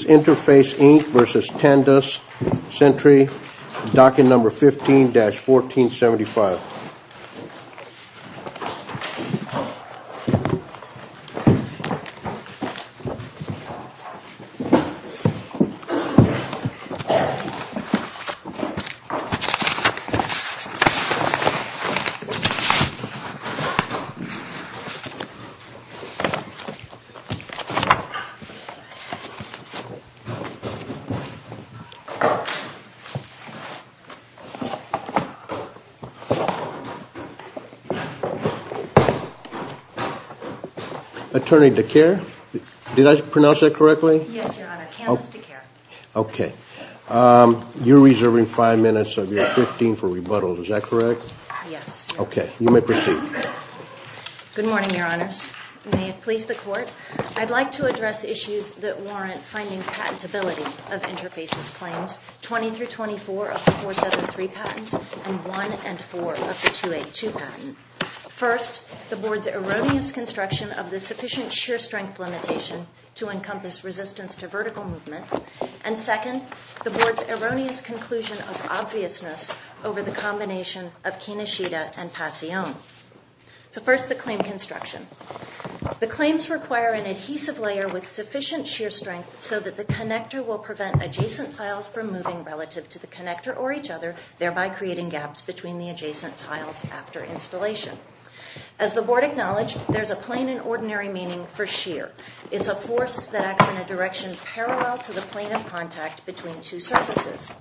This is Interface, Inc. v. Tandus Centiva, docket number 15-1475. Attorney DeKalb, did I pronounce that correctly? Yes, Your Honor. Candice DeKalb. Okay. You're reserving five minutes of your 15 for rebuttal, is that correct? Yes. Okay. Good morning, Your Honors. May it please the Court. I'd like to address issues that warrant finding patentability of Interface's claims, 20-24 of the 473 patent and 1-4 of the 282 patent. First, the Board's erroneous construction of the sufficient sheer strength limitation to encompass resistance to vertical movement. And second, the Board's erroneous conclusion of obviousness over the combination of Kinoshita and Passione. So first, the claim construction. The claims require an adhesive layer with sufficient sheer strength so that the connector will prevent adjacent tiles from moving relative to the connector or each other, thereby creating gaps between the adjacent tiles after installation. As the Board acknowledged, there's a plain and ordinary meaning for sheer. It's a force that acts in a direction parallel to the plane of contact between two surfaces.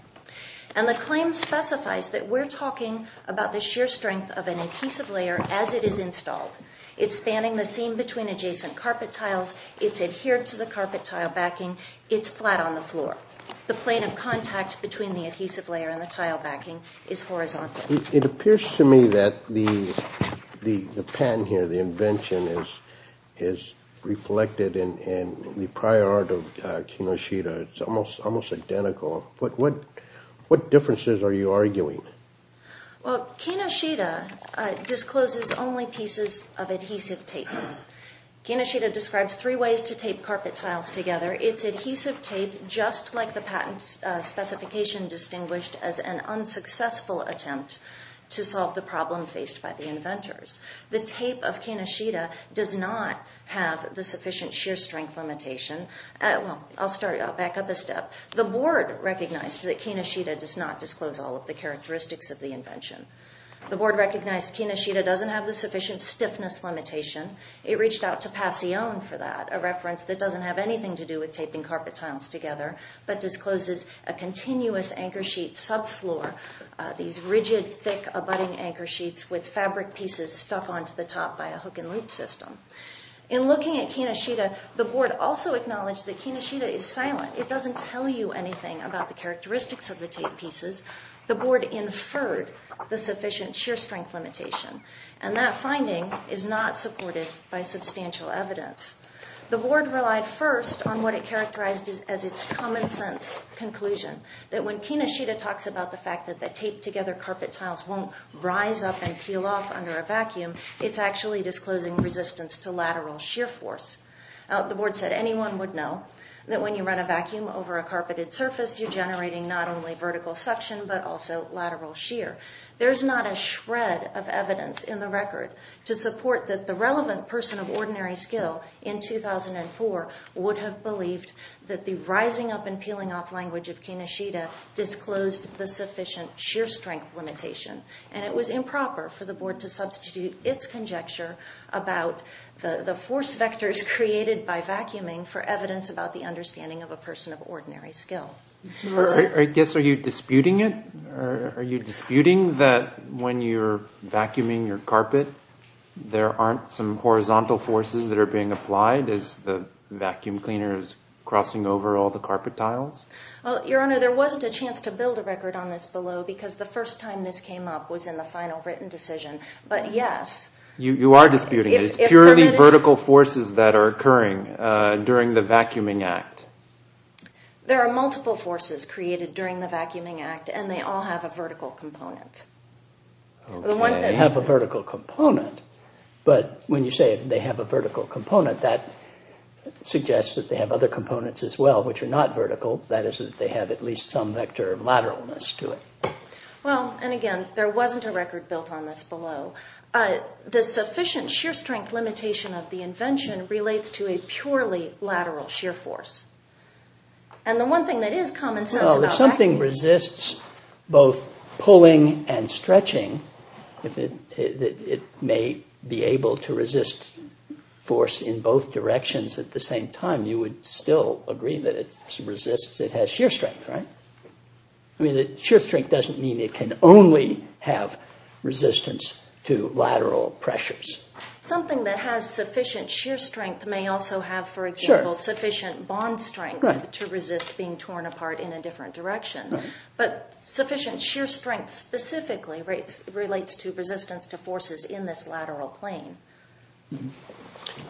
And the claim specifies that we're talking about the sheer strength of an adhesive layer as it is installed. It's spanning the seam between adjacent carpet tiles. It's adhered to the carpet tile backing. It's flat on the floor. The plane of contact between the adhesive layer and the tile backing is horizontal. It appears to me that the patent here, the invention, is reflected in the prior art of Kinoshita. It's almost identical. What differences are you arguing? Well, Kinoshita discloses only pieces of adhesive tape. Kinoshita describes three ways to tape carpet tiles together. It's adhesive tape, just like the patent specification distinguished as an unsuccessful attempt to solve the problem faced by the inventors. The tape of Kinoshita does not have the sufficient sheer strength limitation. Well, I'll start. I'll back up a step. The board recognized that Kinoshita does not disclose all of the characteristics of the invention. The board recognized Kinoshita doesn't have the sufficient stiffness limitation. It reached out to Passione for that, a reference that doesn't have anything to do with taping carpet tiles together, but discloses a continuous anchor sheet subfloor. These rigid, thick, abutting anchor sheets with fabric pieces stuck onto the top by a hook and loop system. In looking at Kinoshita, the board also acknowledged that Kinoshita is silent. It doesn't tell you anything about the characteristics of the tape pieces. The board inferred the sufficient sheer strength limitation, and that finding is not supported by substantial evidence. The board relied first on what it characterized as its common sense conclusion, that when Kinoshita talks about the fact that the taped-together carpet tiles won't rise up and peel off under a vacuum, it's actually disclosing resistance to lateral sheer force. The board said anyone would know that when you run a vacuum over a carpeted surface, you're generating not only vertical suction, but also lateral sheer. There's not a shred of evidence in the record to support that the relevant person of ordinary skill in 2004 would have believed that the rising up and peeling off language of Kinoshita disclosed the sufficient sheer strength limitation. And it was improper for the board to substitute its conjecture about the force vectors created by vacuuming for evidence about the understanding of a person of ordinary skill. I guess are you disputing it? Are you disputing that when you're vacuuming your carpet, there aren't some horizontal forces that are being applied as the vacuum cleaner is crossing over all the carpet tiles? Well, Your Honor, there wasn't a chance to build a record on this below because the first time this came up was in the final written decision, but yes. You are disputing it. It's purely vertical forces that are occurring during the vacuuming act. There are multiple forces created during the vacuuming act, and they all have a vertical component. Okay. They have a vertical component, but when you say they have a vertical component, that suggests that they have other components as well, which are not vertical. That is that they have at least some vector of lateralness to it. Well, and again, there wasn't a record built on this below. The sufficient sheer strength limitation of the invention relates to a purely lateral sheer force. And the one thing that is common sense about vacuuming... at the same time, you would still agree that it has sheer strength, right? I mean, sheer strength doesn't mean it can only have resistance to lateral pressures. Something that has sufficient sheer strength may also have, for example, sufficient bond strength to resist being torn apart in a different direction. But sufficient sheer strength specifically relates to resistance to forces in this lateral plane.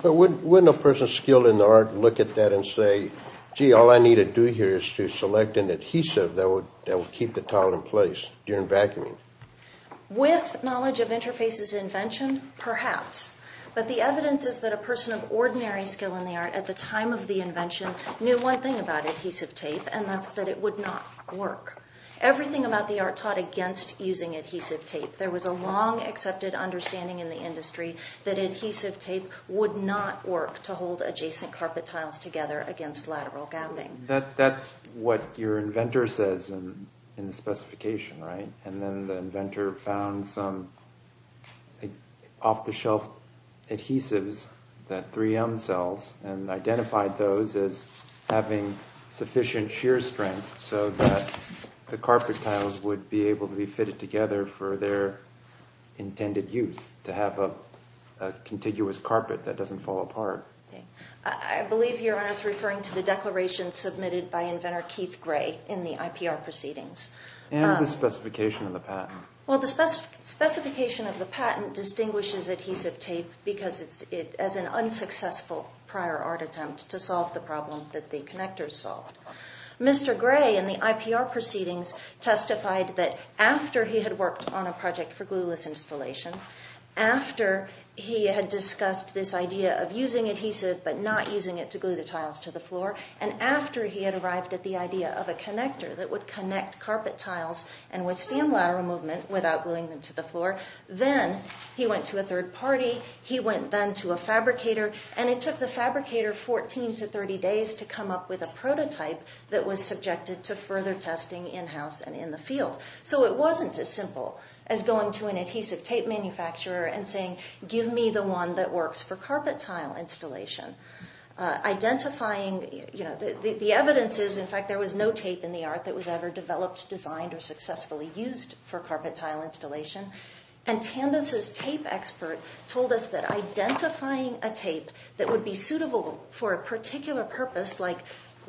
But wouldn't a person skilled in the art look at that and say, gee, all I need to do here is to select an adhesive that will keep the tile in place during vacuuming? With knowledge of Interface's invention, perhaps. But the evidence is that a person of ordinary skill in the art at the time of the invention knew one thing about adhesive tape, and that's that it would not work. Everything about the art taught against using adhesive tape. There was a long accepted understanding in the industry that adhesive tape would not work to hold adjacent carpet tiles together against lateral gapping. That's what your inventor says in the specification, right? And then the inventor found some off-the-shelf adhesives, the 3M cells, and identified those as having sufficient sheer strength so that the carpet tiles would be able to be fitted together for their intended use, to have a contiguous carpet that doesn't fall apart. I believe your Honor is referring to the declaration submitted by inventor Keith Gray in the IPR proceedings. And the specification of the patent. Well, the specification of the patent distinguishes adhesive tape because it's an unsuccessful prior art attempt to solve the problem that the connectors solved. Mr. Gray in the IPR proceedings testified that after he had worked on a project for glueless installation, after he had discussed this idea of using adhesive but not using it to glue the tiles to the floor, and after he had arrived at the idea of a connector that would connect carpet tiles and withstand lateral movement without gluing them to the floor, then he went to a third party, he went then to a fabricator, and it took the fabricator 14 to 30 days to come up with a prototype that was subjected to further testing in-house and in the field. So it wasn't as simple as going to an adhesive tape manufacturer and saying, give me the one that works for carpet tile installation. Identifying, you know, the evidence is, in fact, there was no tape in the art that was ever developed, designed, or successfully used for carpet tile installation. And Tandis's tape expert told us that identifying a tape that would be suitable for a particular purpose like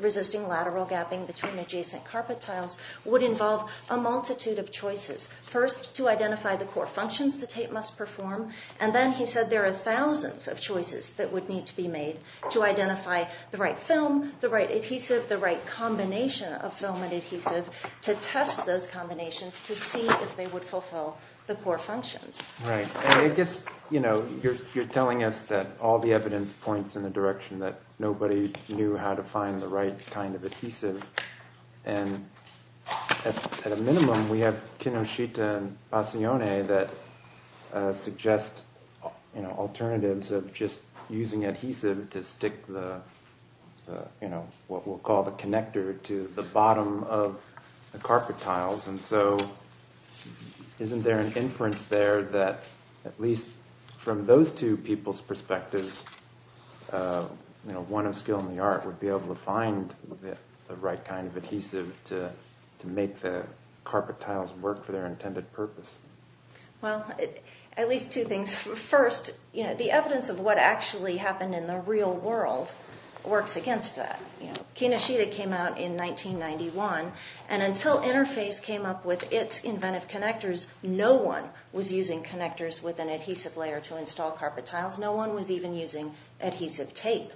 resisting lateral gapping between adjacent carpet tiles would involve a multitude of choices. First, to identify the core functions the tape must perform, and then he said there are thousands of choices that would need to be made to identify the right film, the right adhesive, the right combination of film and adhesive to test those combinations to see if they would fulfill the core functions. Right. I guess, you know, you're telling us that all the evidence points in the direction that nobody knew how to find the right kind of adhesive, and at a minimum we have Kinoshita and Passione that suggest alternatives of just using adhesive to stick the, you know, what we'll call the connector to the bottom of the carpet tiles. And so isn't there an inference there that at least from those two people's perspectives, you know, one of skill in the art would be able to find the right kind of adhesive to make the carpet tiles work for their intended purpose? Well, at least two things. First, you know, the evidence of what actually happened in the real world works against that. Kinoshita came out in 1991, and until Interface came up with its inventive connectors, no one was using connectors with an adhesive layer to install carpet tiles. No one was even using adhesive tape.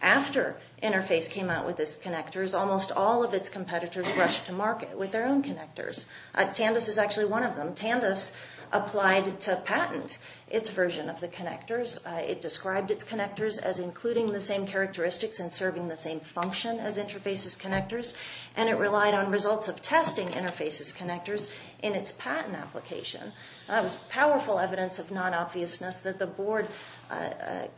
After Interface came out with its connectors, almost all of its competitors rushed to market with their own connectors. Tandis is actually one of them. Tandis applied to patent its version of the connectors. It described its connectors as including the same characteristics and serving the same function as Interface's connectors, and it relied on results of testing Interface's connectors in its patent application. That was powerful evidence of non-obviousness that the board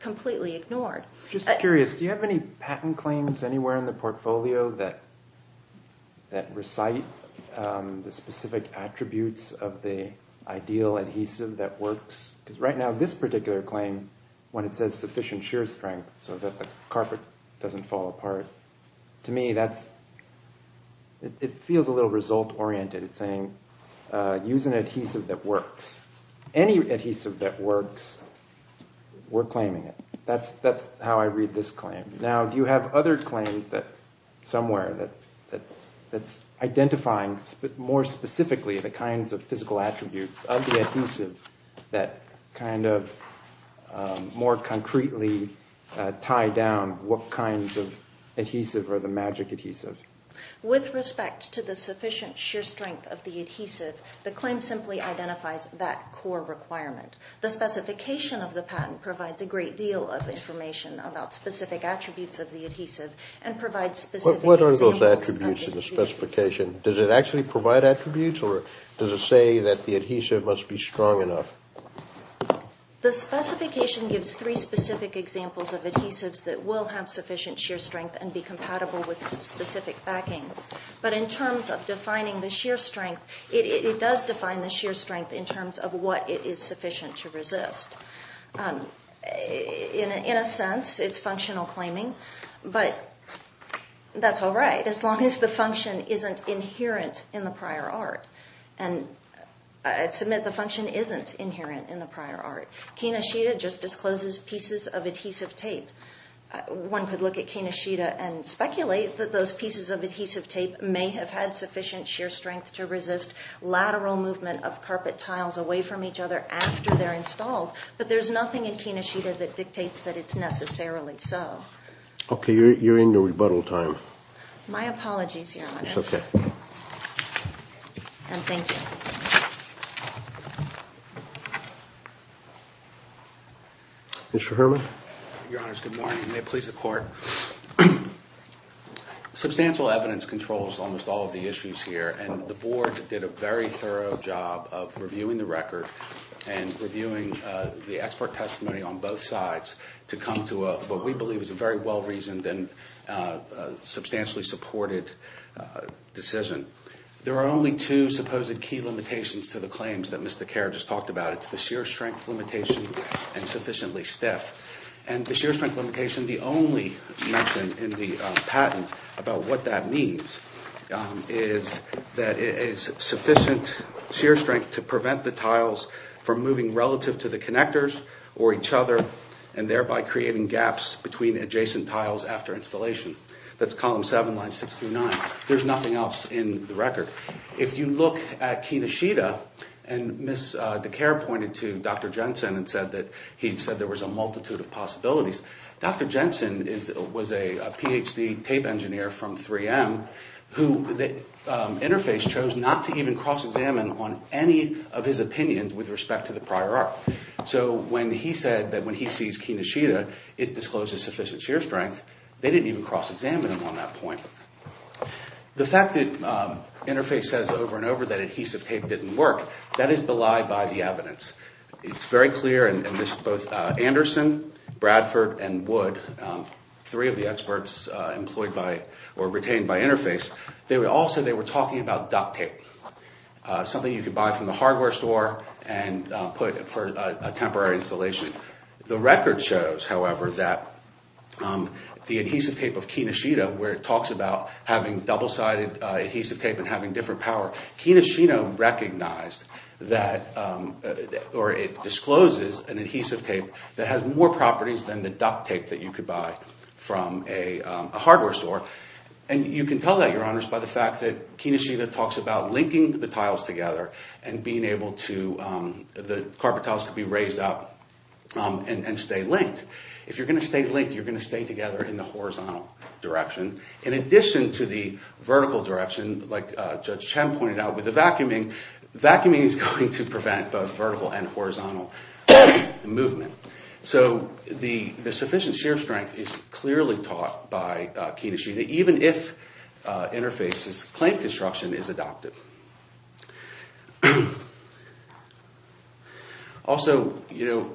completely ignored. Just curious, do you have any patent claims anywhere in the portfolio that recite the specific attributes of the ideal adhesive that works? Because right now, this particular claim, when it says sufficient shear strength so that the carpet doesn't fall apart, to me that's—it feels a little result-oriented. It's saying, use an adhesive that works. Any adhesive that works, we're claiming it. That's how I read this claim. Now, do you have other claims somewhere that's identifying more specifically the kinds of physical attributes of the adhesive that kind of more concretely tie down what kinds of adhesive are the magic adhesive? With respect to the sufficient shear strength of the adhesive, the claim simply identifies that core requirement. The specification of the patent provides a great deal of information about specific attributes of the adhesive and provides specific examples— What are those attributes in the specification? Does it actually provide attributes, or does it say that the adhesive must be strong enough? The specification gives three specific examples of adhesives that will have sufficient shear strength and be compatible with specific backings. But in terms of defining the shear strength, it does define the shear strength in terms of what it is sufficient to resist. In a sense, it's functional claiming, but that's all right, as long as the function isn't inherent in the prior art. And I'd submit the function isn't inherent in the prior art. Kinoshita just discloses pieces of adhesive tape. One could look at Kinoshita and speculate that those pieces of adhesive tape may have had sufficient shear strength to resist lateral movement of carpet tiles away from each other after they're installed, but there's nothing in Kinoshita that dictates that it's necessarily so. Okay, you're in your rebuttal time. My apologies, Your Honor. It's okay. And thank you. Your Honors, good morning. May it please the Court. Substantial evidence controls almost all of the issues here, and the Board did a very thorough job of reviewing the record and reviewing the expert testimony on both sides to come to what we believe is a very well-reasoned and substantially supported decision. There are only two supposed key limitations to the claims that Mr. Kerr just talked about. It's the shear strength limitation and sufficiently stiff. And the shear strength limitation, the only mention in the patent about what that means, is that it is sufficient shear strength to prevent the tiles from moving relative to the connectors or each other, and thereby creating gaps between adjacent tiles after installation. That's Column 7, Lines 6 through 9. There's nothing else in the record. If you look at Kinoshita, and Ms. DeKerr pointed to Dr. Jensen and said that there was a multitude of possibilities, Dr. Jensen was a Ph.D. tape engineer from 3M who Interface chose not to even cross-examine on any of his opinions with respect to the prior art. So when he said that when he sees Kinoshita, it discloses sufficient shear strength, they didn't even cross-examine him on that point. The fact that Interface says over and over that adhesive tape didn't work, that is belied by the evidence. It's very clear, and both Anderson, Bradford, and Wood, three of the experts retained by Interface, they all said they were talking about duct tape, something you could buy from the hardware store and put for a temporary installation. The record shows, however, that the adhesive tape of Kinoshita, where it talks about having double-sided adhesive tape and having different power, Kinoshita recognized that, or it discloses an adhesive tape that has more properties than the duct tape that you could buy from a hardware store. And you can tell that, Your Honors, by the fact that Kinoshita talks about linking the tiles together and being able to, the carpet tiles could be raised up and stay linked. If you're going to stay linked, you're going to stay together in the horizontal direction. In addition to the vertical direction, like Judge Chen pointed out with the vacuuming, vacuuming is going to prevent both vertical and horizontal movement. So the sufficient shear strength is clearly taught by Kinoshita, even if Interface's claim construction is adopted. Also, you know,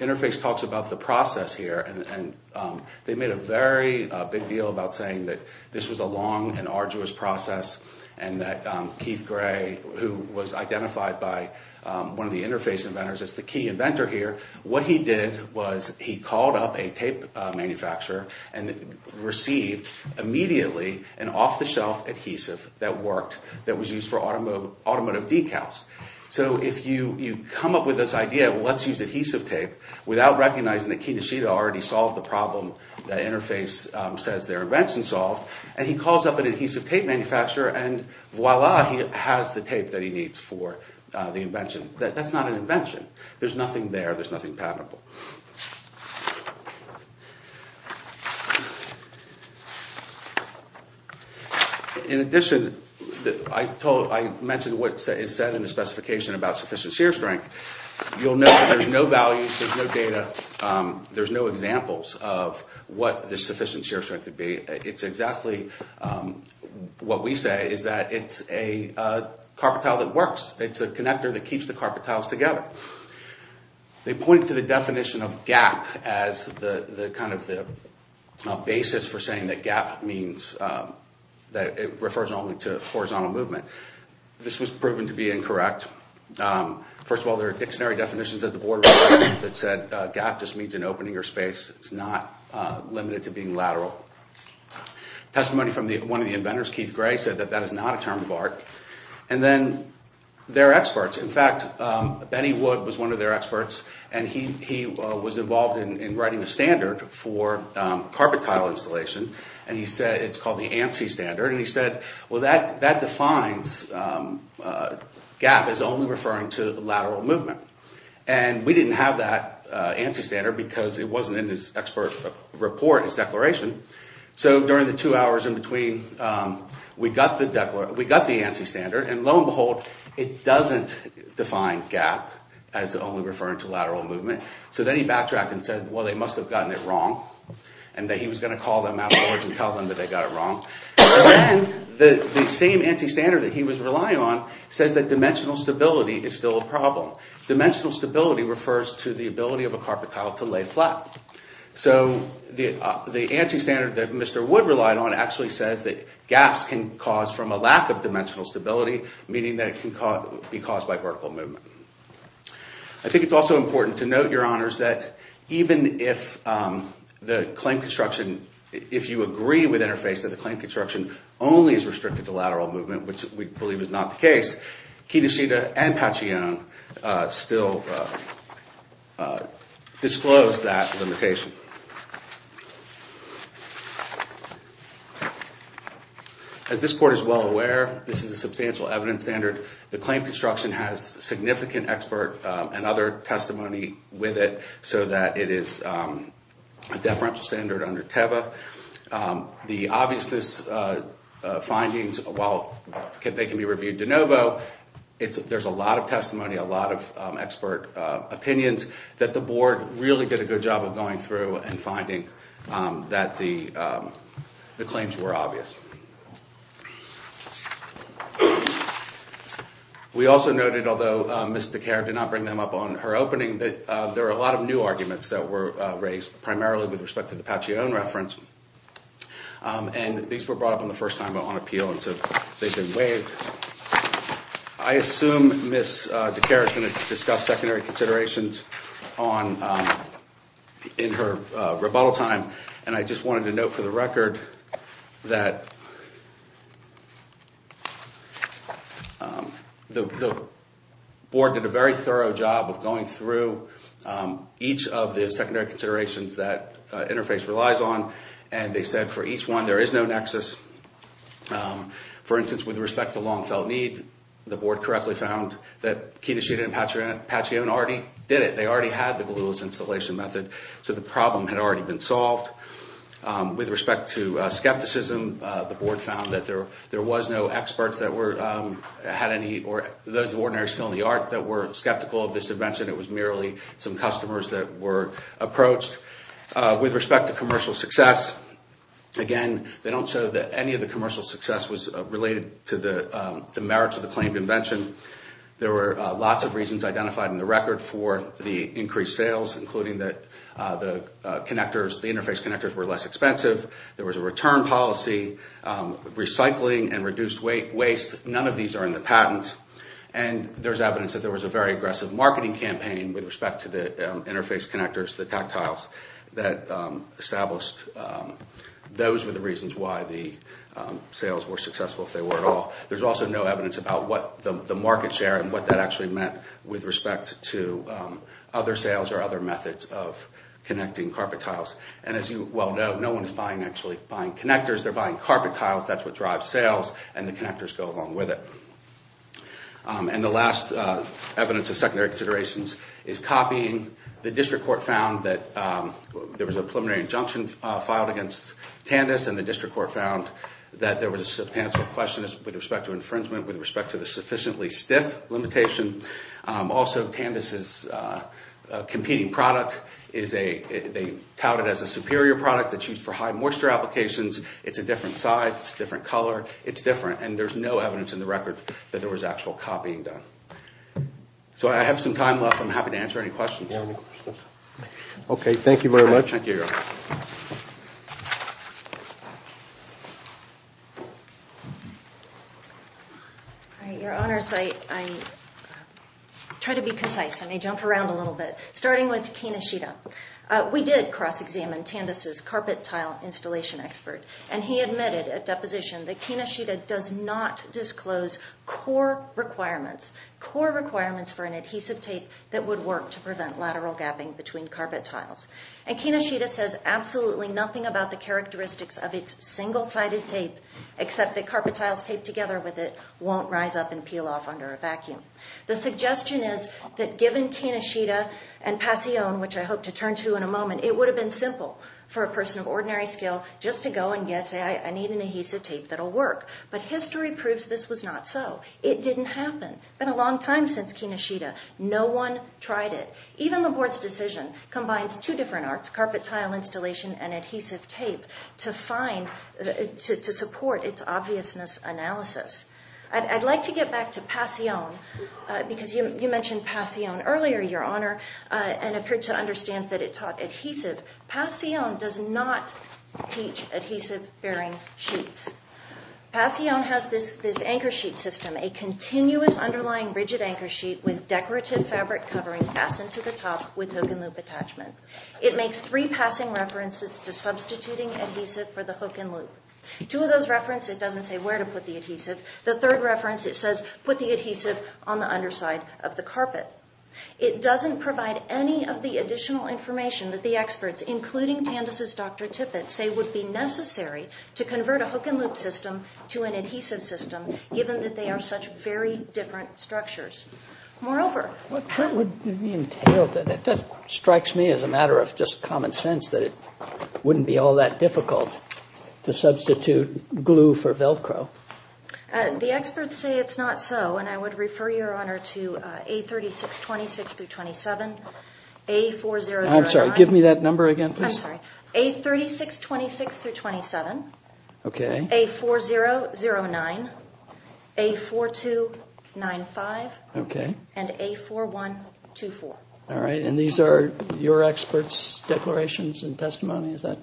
Interface talks about the process here, and they made a very big deal about saying that this was a long and arduous process and that Keith Gray, who was identified by one of the Interface inventors as the key inventor here, what he did was he called up a tape manufacturer and received immediately an off-the-shelf adhesive that worked, that was used for automotive decals. So if you come up with this idea of let's use adhesive tape without recognizing that Kinoshita already solved the problem that Interface says their invention solved, and he calls up an adhesive tape manufacturer and voila, he has the tape that he needs for the invention. That's not an invention. There's nothing there. There's nothing patentable. In addition, I mentioned what is said in the specification about sufficient shear strength. You'll note that there's no values. There's no data. There's no examples of what the sufficient shear strength would be. It's exactly what we say is that it's a carpet tile that works. It's a connector that keeps the carpet tiles together. They point to the definition of gap as kind of the basis for saying that gap means that it refers only to horizontal movement. This was proven to be incorrect. First of all, there are dictionary definitions that the board wrote that said gap just means an opening or space. It's not limited to being lateral. Testimony from one of the inventors, Keith Gray, said that that is not a term of art. And then there are experts. In fact, Benny Wood was one of their experts, and he was involved in writing the standard for carpet tile installation, and he said it's called the ANSI standard. And he said, well, that defines gap as only referring to lateral movement. And we didn't have that ANSI standard because it wasn't in his expert report, his declaration. So during the two hours in between, we got the ANSI standard. And lo and behold, it doesn't define gap as only referring to lateral movement. So then he backtracked and said, well, they must have gotten it wrong, and that he was going to call them afterwards and tell them that they got it wrong. And then the same ANSI standard that he was relying on says that dimensional stability is still a problem. Dimensional stability refers to the ability of a carpet tile to lay flat. So the ANSI standard that Mr. Wood relied on actually says that gaps can cause from a lack of dimensional stability, meaning that it can be caused by vertical movement. I think it's also important to note, Your Honors, that even if the claim construction, if you agree with Interface that the claim construction only is restricted to lateral movement, which we believe is not the case, Kedeshita and Pachione still disclose that limitation. As this court is well aware, this is a substantial evidence standard. The claim construction has significant expert and other testimony with it, so that it is a deferential standard under TEVA. The obviousness findings, while they can be reviewed de novo, there's a lot of testimony, a lot of expert opinions, that the board really did a good job of going through and finding that the claims were obvious. We also noted, although Ms. DeKerr did not bring them up on her opening, that there are a lot of new arguments that were raised, primarily with respect to the Pachione reference. And these were brought up on the first time on appeal, and so they've been waived. I assume Ms. DeKerr is going to discuss secondary considerations in her rebuttal time, and I just wanted to note for the record that the board did a very thorough job of going through each of the secondary considerations that Interface relies on, and they said for each one there is no nexus. For instance, with respect to long-felt need, the board correctly found that Kedeshita and Pachione already did it. They already had the glueless installation method, so the problem had already been solved. With respect to skepticism, the board found that there was no experts that had any, or those of ordinary skill in the art that were skeptical of this invention. It was merely some customers that were approached. With respect to commercial success, again, they don't show that any of the commercial success was related to the merits of the claimed invention. There were lots of reasons identified in the record for the increased sales, including that the Interface connectors were less expensive. There was a return policy, recycling and reduced waste. None of these are in the patents, and there's evidence that there was a very aggressive marketing campaign with respect to the Interface connectors, the tactiles that established those were the reasons why the sales were successful, if they were at all. There's also no evidence about what the market share and what that actually meant with respect to other sales or other methods of connecting carpet tiles. As you well know, no one is actually buying connectors. They're buying carpet tiles. That's what drives sales, and the connectors go along with it. The last evidence of secondary considerations is copying. The district court found that there was a preliminary injunction filed against Tandis, and the district court found that there was a substantial question with respect to infringement with respect to the sufficiently stiff limitation. Also, Tandis is a competing product. They tout it as a superior product that's used for high moisture applications. It's a different size. It's a different color. It's different. And there's no evidence in the record that there was actual copying done. So I have some time left. I'm happy to answer any questions. Okay, thank you very much. Your Honors, I try to be concise and I jump around a little bit, starting with Kinoshita. We did cross-examine Tandis' carpet tile installation expert, and he admitted at deposition that Kinoshita does not disclose core requirements, core requirements for an adhesive tape that would work to prevent lateral gapping between carpet tiles. And Kinoshita says absolutely nothing about the characteristics of its single-sided tape, except that carpet tiles taped together with it won't rise up and peel off under a vacuum. The suggestion is that given Kinoshita and Passione, which I hope to turn to in a moment, it would have been simple for a person of ordinary skill just to go and say, I need an adhesive tape that will work. But history proves this was not so. It didn't happen. It's been a long time since Kinoshita. No one tried it. Even the Board's decision combines two different arts, carpet tile installation and adhesive tape, to support its obviousness analysis. I'd like to get back to Passione, because you mentioned Passione earlier, Your Honor, and appeared to understand that it taught adhesive. Passione does not teach adhesive-bearing sheets. Passione has this anchor sheet system, a continuous underlying rigid anchor sheet with decorative fabric covering fastened to the top with hook-and-loop attachment. It makes three passing references to substituting adhesive for the hook-and-loop. Two of those references doesn't say where to put the adhesive. The third reference, it says put the adhesive on the underside of the carpet. It doesn't provide any of the additional information that the experts, including Tandis' Dr. Tippett, say would be necessary to convert a hook-and-loop system to an adhesive system, given that they are such very different structures. Moreover, What part would be entailed? It strikes me as a matter of just common sense that it wouldn't be all that difficult to substitute glue for Velcro. The experts say it's not so, and I would refer Your Honor to A3626-27, A4009, I'm sorry, give me that number again, please. I'm sorry, A3626-27, A4009, A4295, and A4124. All right, and these are your experts' declarations and testimony? It's our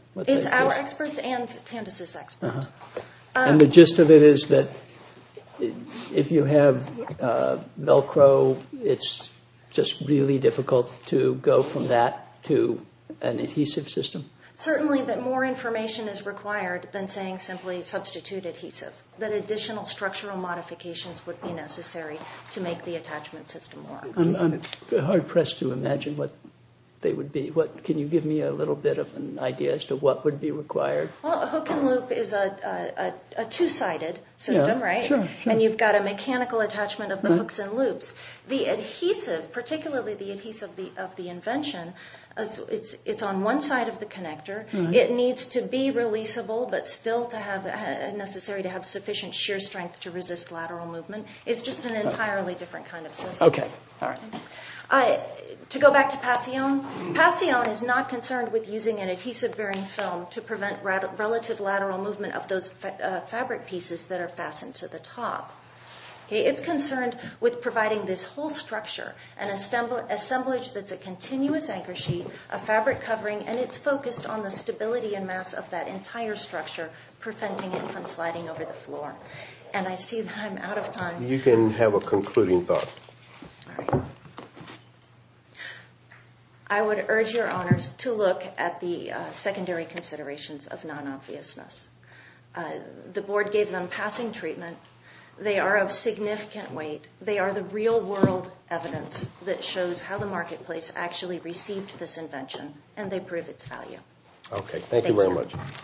experts' and Tandis' experts'. And the gist of it is that if you have Velcro, it's just really difficult to go from that to an adhesive system? Certainly that more information is required than saying simply substitute adhesive, that additional structural modifications would be necessary to make the attachment system work. I'm hard-pressed to imagine what they would be. Can you give me a little bit of an idea as to what would be required? Well, a hook-and-loop is a two-sided system, right? And you've got a mechanical attachment of the hooks and loops. The adhesive, particularly the adhesive of the invention, it's on one side of the connector. It needs to be releasable, but still necessary to have sufficient shear strength to resist lateral movement. It's just an entirely different kind of system. Okay, all right. To go back to Passione, Passione is not concerned with using an adhesive-bearing film to prevent relative lateral movement of those fabric pieces that are fastened to the top. It's concerned with providing this whole structure, an assemblage that's a continuous anchor sheet, a fabric covering, and it's focused on the stability and mass of that entire structure, preventing it from sliding over the floor. And I see that I'm out of time. You can have a concluding thought. All right. I would urge your honors to look at the secondary considerations of non-obviousness. The board gave them passing treatment. They are of significant weight. They are the real-world evidence that shows how the marketplace actually received this invention, and they prove its value. Okay, thank you very much.